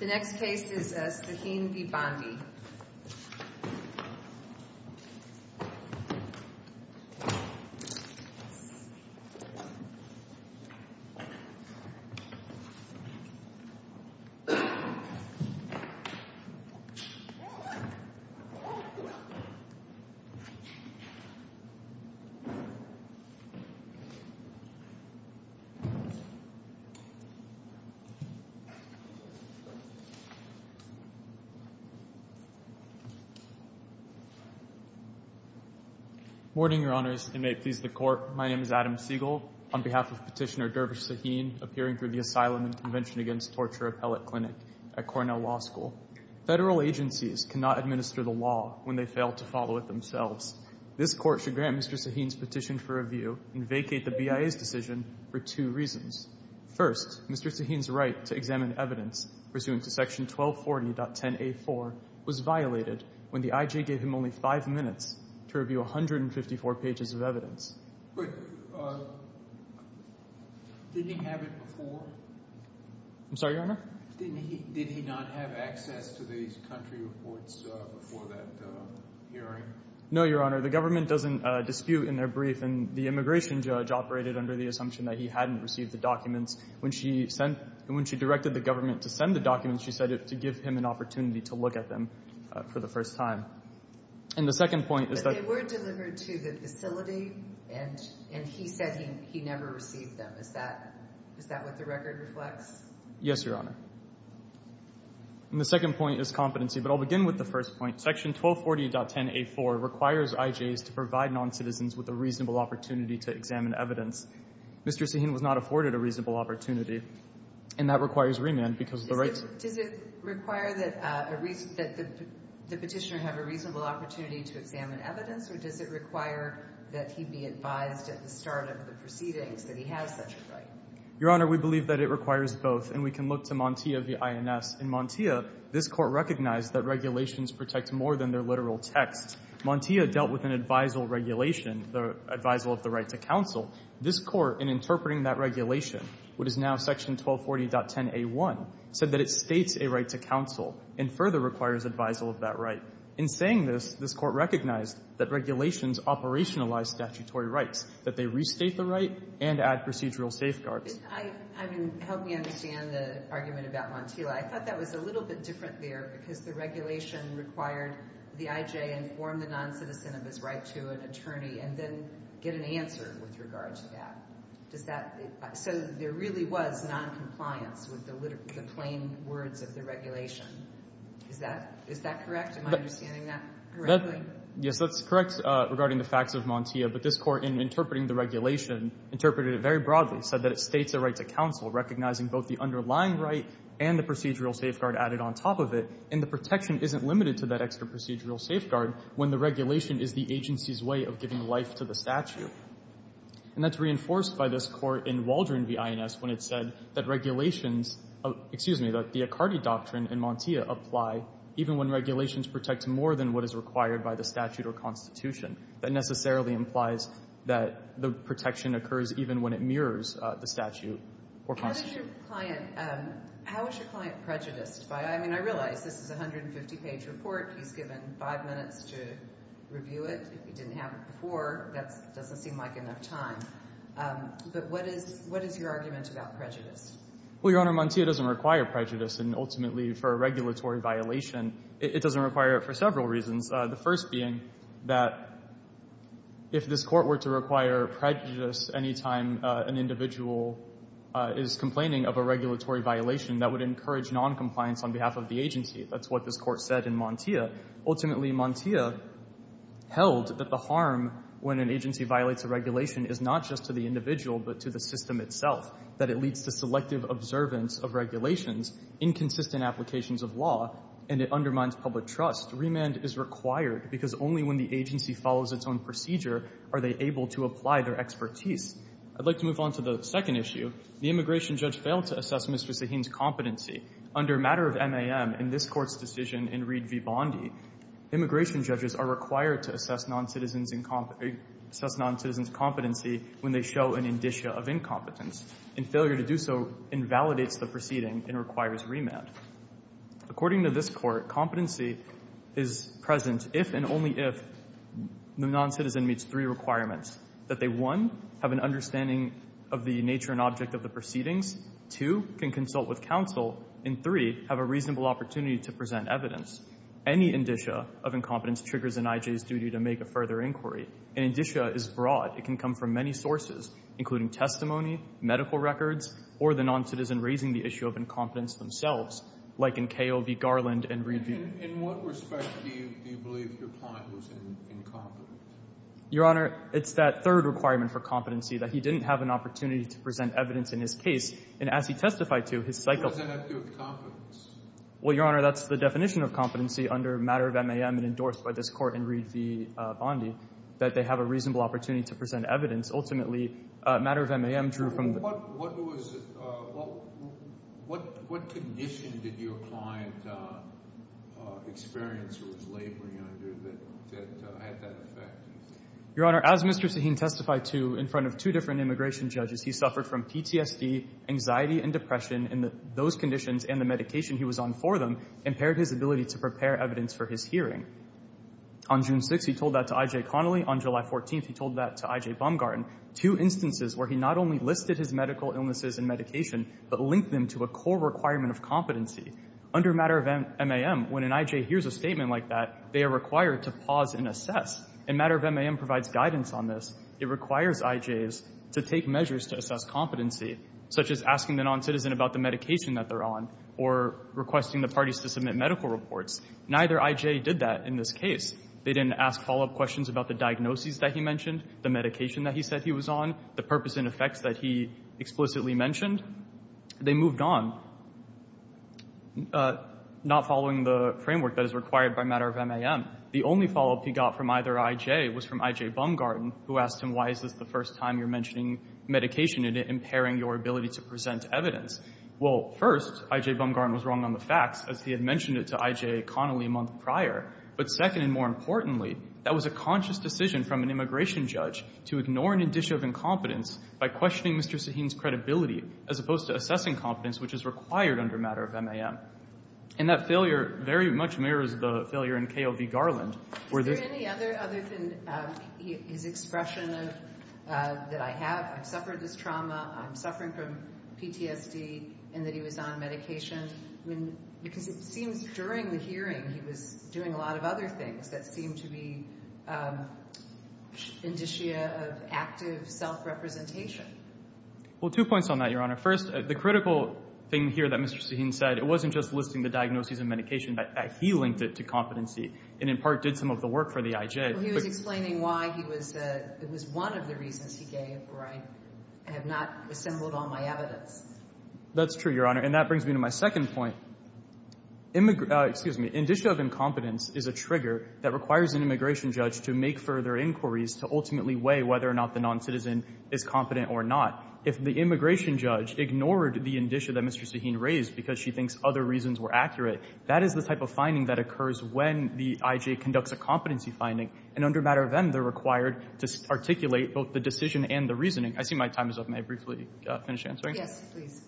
The next case is Sahin v. Bondi Mr. Sahin v. Bondi Mr. Sahin's right to examine evidence pursuant to Section 1240.10a.4 was violated when the I.G. gave him only five minutes to review 154 pages of evidence. But did he have it before? I'm sorry, Your Honor? Did he not have access to these country reports before that hearing? No, Your Honor. The government doesn't dispute in their brief, and the immigration judge operated under the assumption that he hadn't received the documents. When she directed the government to send the documents, she said to give him an opportunity to look at them for the first time. But they were delivered to the facility, and he said he never received them. Is that what the record reflects? Yes, Your Honor. And the second point is competency, but I'll begin with the first point. Section 1240.10a.4 requires I.G.s to provide noncitizens with a reasonable opportunity to examine evidence. Mr. Sahin was not afforded a reasonable opportunity, and that requires remand because of the rights— Does it require that the petitioner have a reasonable opportunity to examine evidence, or does it require that he be advised at the start of the proceedings that he has such a right? Your Honor, we believe that it requires both, and we can look to Montia v. INS. In Montia, this Court recognized that regulations protect more than their literal text. Montia dealt with an advisal regulation, the advisal of the right to counsel. This Court, in interpreting that regulation, what is now Section 1240.10a.1, said that it states a right to counsel and further requires advisal of that right. In saying this, this Court recognized that regulations operationalize statutory rights, that they restate the right and add procedural safeguards. I mean, help me understand the argument about Montia. I thought that was a little bit different there because the regulation required the I.J. inform the noncitizen of his right to an attorney and then get an answer with regard to that. Does that—so there really was noncompliance with the plain words of the regulation. Is that correct? Am I understanding that correctly? Yes, that's correct regarding the facts of Montia. But this Court, in interpreting the regulation, interpreted it very broadly, said that it states a right to counsel, recognizing both the underlying right and the procedural safeguard added on top of it. And the protection isn't limited to that extra procedural safeguard when the regulation is the agency's way of giving life to the statute. And that's reinforced by this Court in Waldron v. INS when it said that regulations—excuse me, that the Accardi doctrine in Montia apply even when regulations protect more than what is required by the statute or constitution. That necessarily implies that the protection occurs even when it mirrors the statute or constitution. How did your client—how was your client prejudiced by—I mean, I realize this is a 150-page report. He's given five minutes to review it. If he didn't have it before, that doesn't seem like enough time. But what is your argument about prejudice? Well, Your Honor, Montia doesn't require prejudice. And ultimately, for a regulatory violation, it doesn't require it for several reasons, the first being that if this Court were to require prejudice any time an individual is complaining of a regulatory violation, that would encourage noncompliance on behalf of the agency. That's what this Court said in Montia. Ultimately, Montia held that the harm when an agency violates a regulation is not just to the individual but to the system itself, that it leads to selective observance of regulations, inconsistent applications of law, and it undermines public trust. Remand is required because only when the agency follows its own procedure are they able to apply their expertise. I'd like to move on to the second issue. The immigration judge failed to assess Mr. Sahin's competency. Under a matter of MAM in this Court's decision in Reed v. Bondi, immigration judges are required to assess noncitizens' competency when they show an indicia of incompetence, and failure to do so invalidates the proceeding and requires remand. According to this Court, competency is present if and only if the noncitizen meets three requirements, that they, one, have an understanding of the nature and object of the proceedings, two, can consult with counsel, and three, have a reasonable opportunity to present evidence. Any indicia of incompetence triggers an I.J.'s duty to make a further inquiry. An indicia is broad. It can come from many sources, including testimony, medical records, or the noncitizen raising the issue of incompetence themselves, like in K.O.V. Garland and Reed v.— In what respect do you believe your client was incompetent? Your Honor, it's that third requirement for competency, that he didn't have an opportunity to present evidence in his case, and as he testified to, his cycle— What does that have to do with competence? Well, Your Honor, that's the definition of competency under a matter of MAM and endorsed by this Court in Reed v. Bondi, that they have a reasonable opportunity to present evidence. Ultimately, a matter of MAM drew from— What condition did your client experience or was laboring under that had that effect? Your Honor, as Mr. Sahin testified to in front of two different immigration judges, he suffered from PTSD, anxiety, and depression, and those conditions and the medication he was on for them impaired his ability to prepare evidence for his hearing. On June 6th, he told that to I.J. Connolly. On July 14th, he told that to I.J. Baumgarten. Two instances where he not only listed his medical illnesses and medication, but linked them to a core requirement of competency. Under a matter of MAM, when an I.J. hears a statement like that, they are required to pause and assess. A matter of MAM provides guidance on this. It requires I.J.s to take measures to assess competency, such as asking the noncitizen about the medication that they're on or requesting the parties to submit medical reports. Neither I.J. did that in this case. They didn't ask follow-up questions about the diagnoses that he mentioned, the medication that he said he was on, the purpose and effects that he explicitly mentioned. They moved on, not following the framework that is required by a matter of MAM. The only follow-up he got from either I.J. was from I.J. Baumgarten, who asked him, why is this the first time you're mentioning medication and it impairing your ability to present evidence? Well, first, I.J. Baumgarten was wrong on the facts, as he had mentioned it to I.J. Connolly a month prior. But second, and more importantly, that was a conscious decision from an immigration judge to ignore an indicia of incompetence by questioning Mr. Sahin's credibility, as opposed to assessing competence, which is required under a matter of MAM. And that failure very much mirrors the failure in K.O.V. Garland. Is there any other than his expression that I have suffered this trauma, I'm suffering from PTSD, and that he was on medication? Because it seems during the hearing he was doing a lot of other things that seemed to be indicia of active self-representation. Well, two points on that, Your Honor. First, the critical thing here that Mr. Sahin said, it wasn't just listing the diagnoses and medication, that he linked it to competency, and in part did some of the work for the I.J. Well, he was explaining why it was one of the reasons he gave where I have not assembled all my evidence. That's true, Your Honor. And that brings me to my second point. Excuse me. Indicia of incompetence is a trigger that requires an immigration judge to make further inquiries to ultimately weigh whether or not the noncitizen is competent or not. If the immigration judge ignored the indicia that Mr. Sahin raised because she thinks other reasons were accurate, that is the type of finding that occurs when the I.J. conducts a competency finding, and under matter of M, they're required to articulate both the decision and the reasoning. I see my time is up. May I briefly finish answering? Yes, please.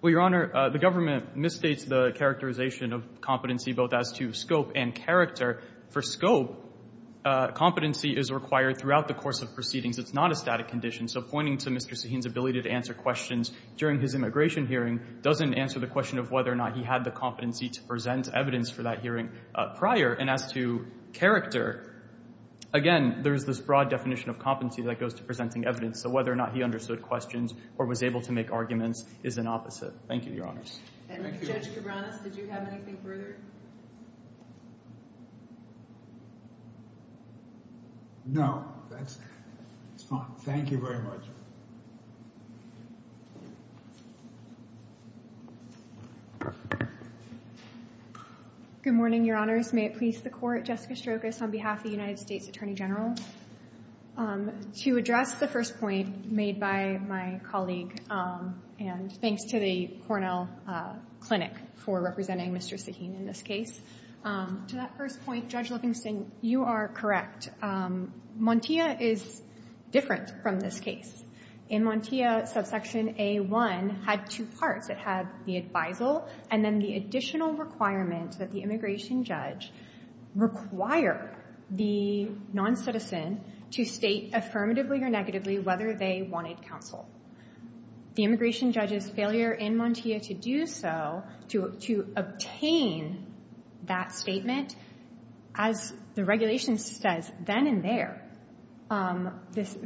Well, Your Honor, the government misstates the characterization of competency both as to scope and character. For scope, competency is required throughout the course of proceedings. It's not a static condition. So pointing to Mr. Sahin's ability to answer questions during his immigration hearing doesn't answer the question of whether or not he had the competency to present evidence for that hearing prior. And as to character, again, there's this broad definition of competency that goes to presenting evidence. So whether or not he understood questions or was able to make arguments is an opposite. Thank you, Your Honor. Thank you. And, Judge Cabranes, did you have anything further? No, that's fine. Thank you very much. Good morning, Your Honors. May it please the Court. Jessica Strokos on behalf of the United States Attorney General. To address the first point made by my colleague, and thanks to the Cornell Clinic for representing Mr. Sahin in this case, to that first point, Judge Livingston, you are correct. Montia is different from this case. In Montia, subsection A1 had two parts. It had the advisal and then the additional requirement that the immigration judge require the noncitizen to state affirmatively or negatively whether they wanted counsel. The immigration judge's failure in Montia to do so, to obtain that statement, as the regulation says then and there,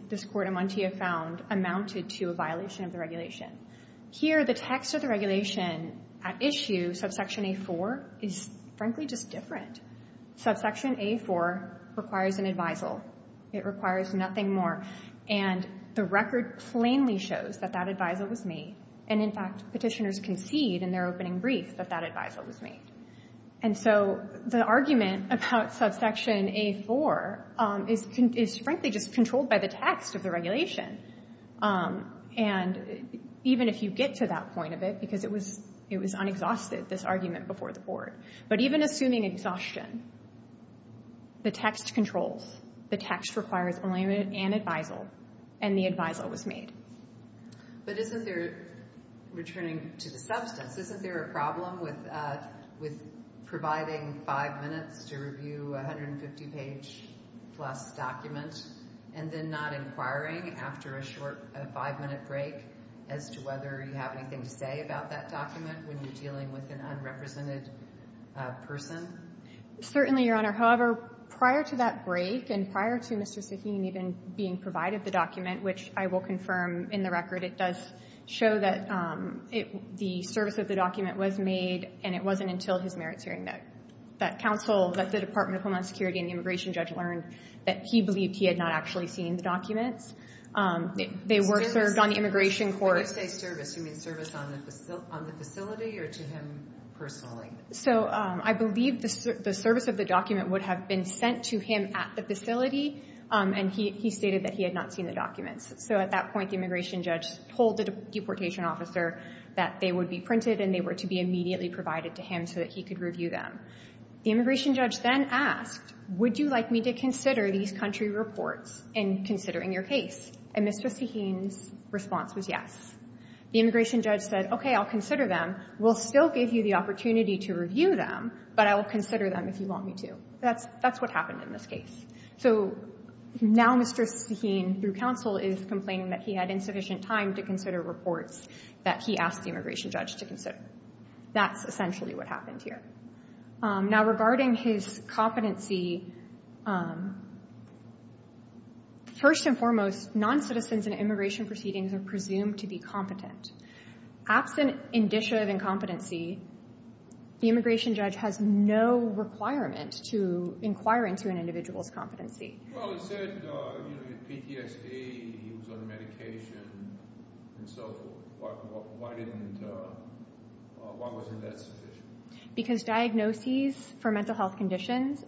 this court in Montia found amounted to a violation of the regulation. Here, the text of the regulation at issue, subsection A4, is frankly just different. Subsection A4 requires an advisal. It requires nothing more. And the record plainly shows that that advisal was made. And, in fact, petitioners concede in their opening brief that that advisal was made. And so the argument about subsection A4 is frankly just controlled by the text of the regulation. And even if you get to that point of it, because it was unexhausted, this argument before the court, but even assuming exhaustion, the text controls. The text requires only an advisal, and the advisal was made. But isn't there, returning to the substance, isn't there a problem with providing five minutes to review a 150-page-plus document and then not inquiring after a short five-minute break as to whether you have anything to say about that document when you're dealing with an unrepresented person? Certainly, Your Honor. However, prior to that break and prior to Mr. Sahin even being provided the document, which I will confirm in the record, it does show that the service of the document was made, and it wasn't until his merits hearing that counsel, that the Department of Homeland Security and the immigration judge learned that he believed he had not actually seen the documents. They were served on the immigration court. When you say service, you mean service on the facility or to him personally? So I believe the service of the document would have been sent to him at the facility, and he stated that he had not seen the documents. So at that point, the immigration judge told the deportation officer that they would be printed and they were to be immediately provided to him so that he could review them. The immigration judge then asked, would you like me to consider these country reports in considering your case? And Mr. Sahin's response was yes. The immigration judge said, okay, I'll consider them. We'll still give you the opportunity to review them, but I will consider them if you want me to. That's what happened in this case. So now Mr. Sahin, through counsel, is complaining that he had insufficient time to consider reports that he asked the immigration judge to consider. That's essentially what happened here. Now, regarding his competency, first and foremost, noncitizens in immigration proceedings are presumed to be competent. Absent indicia of incompetency, the immigration judge has no requirement to inquire into an individual's competency. Well, he said PTSD, he was on medication, and so forth. Why wasn't that sufficient? Because diagnoses for mental health conditions,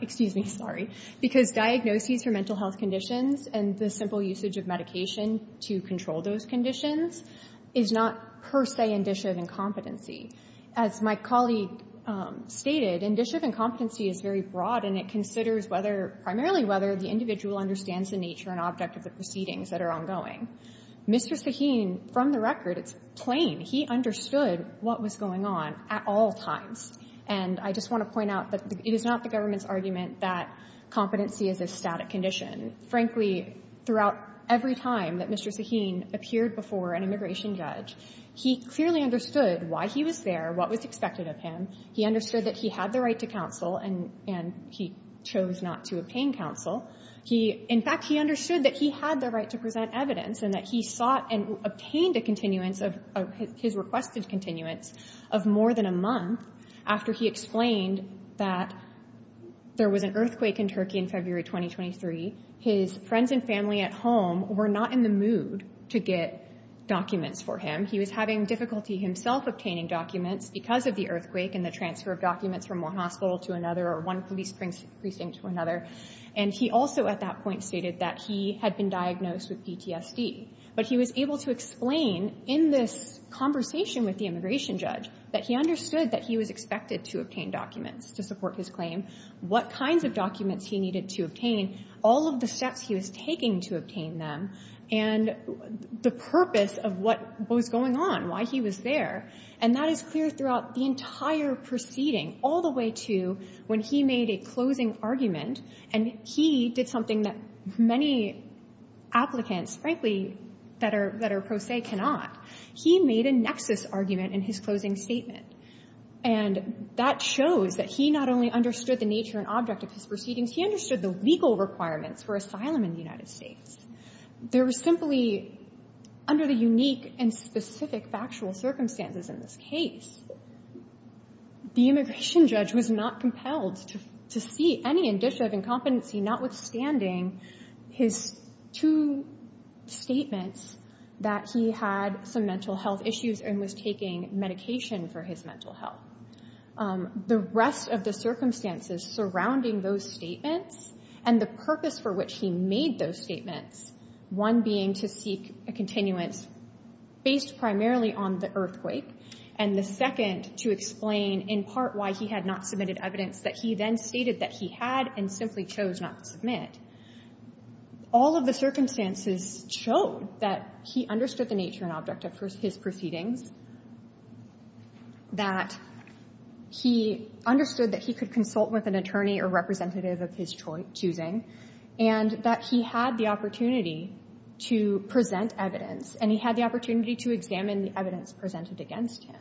excuse me, sorry, because diagnoses for mental health conditions and the simple usage of medication to control those conditions is not per se indicia of incompetency. As my colleague stated, indicia of incompetency is very broad, and it considers whether, primarily whether, the individual understands the nature and object of the proceedings that are ongoing. Mr. Sahin, from the record, it's plain. He understood what was going on at all times. And I just want to point out that it is not the government's argument that competency is a static condition. Frankly, throughout every time that Mr. Sahin appeared before an immigration judge, he clearly understood why he was there, what was expected of him. He understood that he had the right to counsel, and he chose not to obtain counsel. He, in fact, he understood that he had the right to present evidence and that he sought and obtained a continuance of his requested continuance of more than a month after he explained that there was an earthquake in Turkey in February 2023. His friends and family at home were not in the mood to get documents for him. He was having difficulty himself obtaining documents because of the earthquake and the transfer of documents from one hospital to another or one police precinct to another. And he also, at that point, stated that he had been diagnosed with PTSD. But he was able to explain in this conversation with the immigration judge that he understood that he was expected to obtain documents to support his claim, what kinds of documents he needed to obtain, all of the steps he was taking to obtain them, and the purpose of what was going on, why he was there. And that is clear throughout the entire proceeding, all the way to when he made a closing argument. And he did something that many applicants, frankly, that are pro se cannot. He made a nexus argument in his closing statement. And that shows that he not only understood the nature and object of his proceedings, he understood the legal requirements for asylum in the United States. There was simply, under the unique and specific factual circumstances in this case, the immigration judge was not compelled to see any indicia of incompetency, notwithstanding his two statements that he had some mental health issues and was taking medication for his mental health. The rest of the circumstances surrounding those statements, and the purpose for which he made those statements, one being to seek a continuance based primarily on the earthquake, and the second to explain, in part, why he had not submitted evidence that he then stated that he had and simply chose not to submit. All of the circumstances showed that he understood the nature and object of his proceedings, that he understood that he could consult with an attorney or representative of his choosing, and that he had the opportunity to present evidence, and he had the opportunity to examine the evidence presented against him.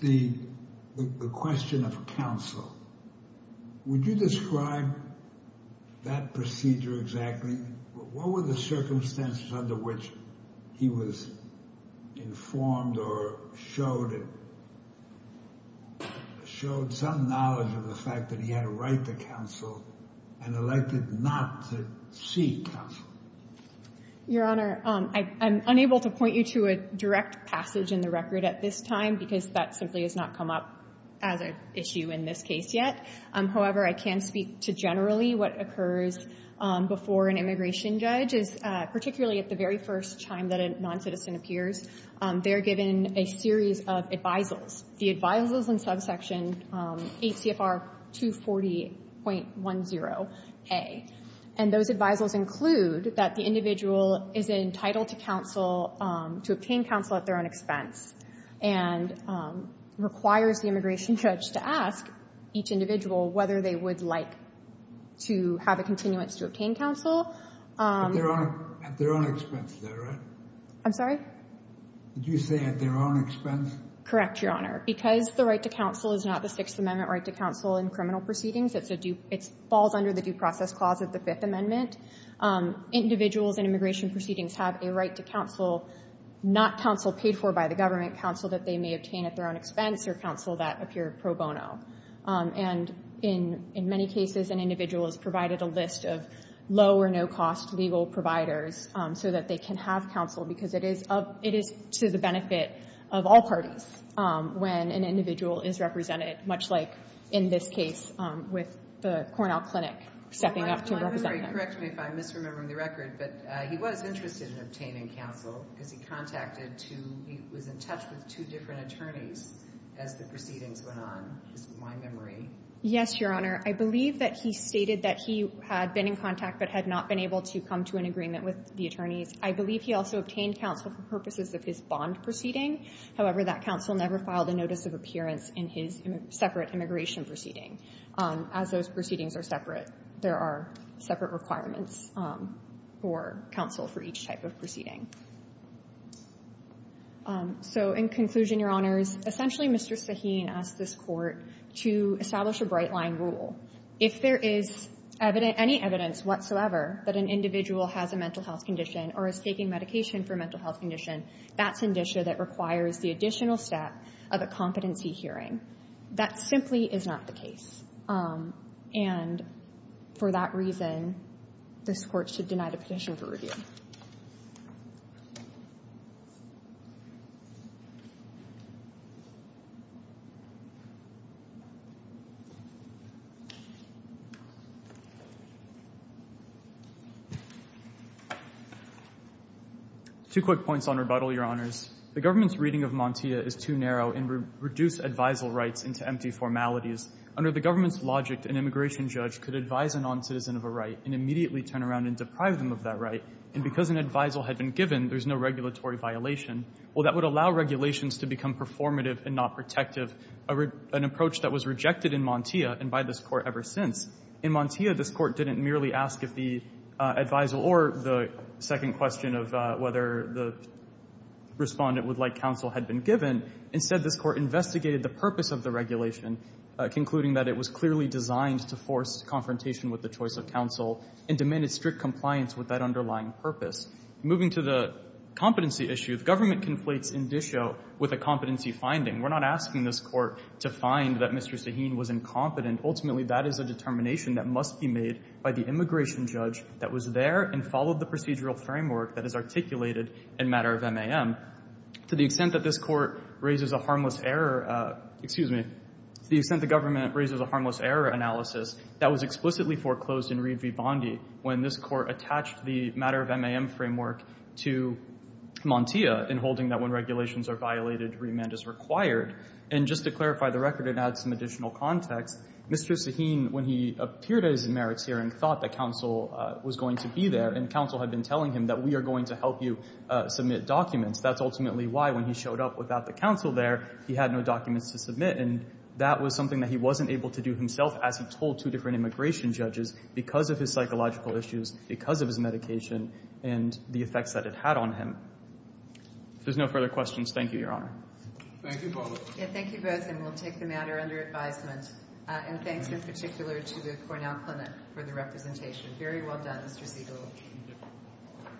The question of counsel, would you describe that procedure exactly? What were the circumstances under which he was informed or showed some knowledge of the fact that he had a right to counsel and elected not to seek counsel? Your Honor, I'm unable to point you to a direct passage in the record at this time because that simply has not come up as an issue in this case yet. However, I can speak to generally what occurs before an immigration judge is, particularly at the very first time that a noncitizen appears, they're given a series of advisals. The advisals in subsection 8 CFR 240.10a. And those advisals include that the individual is entitled to counsel, to obtain counsel at their own expense, and requires the immigration judge to ask each individual whether they would like to have a continuance to obtain counsel. At their own expense, is that right? I'm sorry? Did you say at their own expense? Correct, Your Honor. Because the right to counsel is not the Sixth Amendment right to counsel in criminal proceedings, it falls under the Due Process Clause of the Fifth Amendment. Individuals in immigration proceedings have a right to counsel, not counsel paid for by the government, counsel that they may obtain at their own expense or counsel that appear pro bono. And in many cases, an individual is provided a list of low or no-cost legal providers so that they can have counsel because it is to the benefit of all parties when an individual is represented, much like in this case with the Cornell Clinic stepping up to represent them. My memory, correct me if I'm misremembering the record, but he was interested in obtaining counsel because he contacted two, he was in touch with two different attorneys as the proceedings went on, is my memory. Yes, Your Honor. I believe that he stated that he had been in contact but had not been able to come to an agreement with the attorneys. I believe he also obtained counsel for purposes of his bond proceeding. However, that counsel never filed a notice of appearance in his separate immigration proceeding. As those proceedings are separate, there are separate requirements for counsel for each type of proceeding. So in conclusion, Your Honors, essentially Mr. Sahin asked this Court to establish a bright-line rule. If there is any evidence whatsoever that an individual has a mental health condition or is taking medication for a mental health condition, that's an issue that requires the additional step of a competency hearing. That simply is not the case. And for that reason, this Court should deny the petition for review. Two quick points on rebuttal, Your Honors. The government's reading of Montia is too narrow and would reduce advisal rights into empty formalities. Under the government's logic, an immigration judge could advise a noncitizen of a right and immediately turn around and deprive them of that right. And because an advisal had been given, there's no regulatory violation. Well, that would allow regulations to become performative and not protective, an approach that was rejected in Montia and by this Court ever since. In Montia, this Court didn't merely ask if the advisal or the second question of whether the Respondent would like counsel had been given. Instead, this Court investigated the purpose of the regulation, concluding that it was clearly designed to force confrontation with the choice of counsel and demanded strict compliance with that underlying purpose. Moving to the competency issue, the government conflates indicio with a competency finding. We're not asking this Court to find that Mr. Sahin was incompetent. Ultimately, that is a determination that must be made by the immigration judge that was there and followed the procedural framework that is articulated in Matter of MAM. To the extent that this Court raises a harmless error, excuse me, to the extent the government raises a harmless error analysis, that was explicitly foreclosed in Reed v. Bondi when this Court attached the Matter of MAM framework to Montia in holding that when regulations are violated, remand is required. And just to clarify the record and add some additional context, Mr. Sahin, when he appeared at his merits hearing, thought that counsel was going to be there and counsel had been telling him that we are going to help you submit documents. That's ultimately why when he showed up without the counsel there, he had no documents to submit, and that was something that he wasn't able to do himself as he told two different immigration judges because of his psychological issues, because of his medication, and the effects that it had on him. If there's no further questions, thank you, Your Honor. Thank you both. Thank you both, and we'll take the matter under advisement. And thanks in particular to the Cornell Clinic for the representation. Very well done, Mr. Siegel.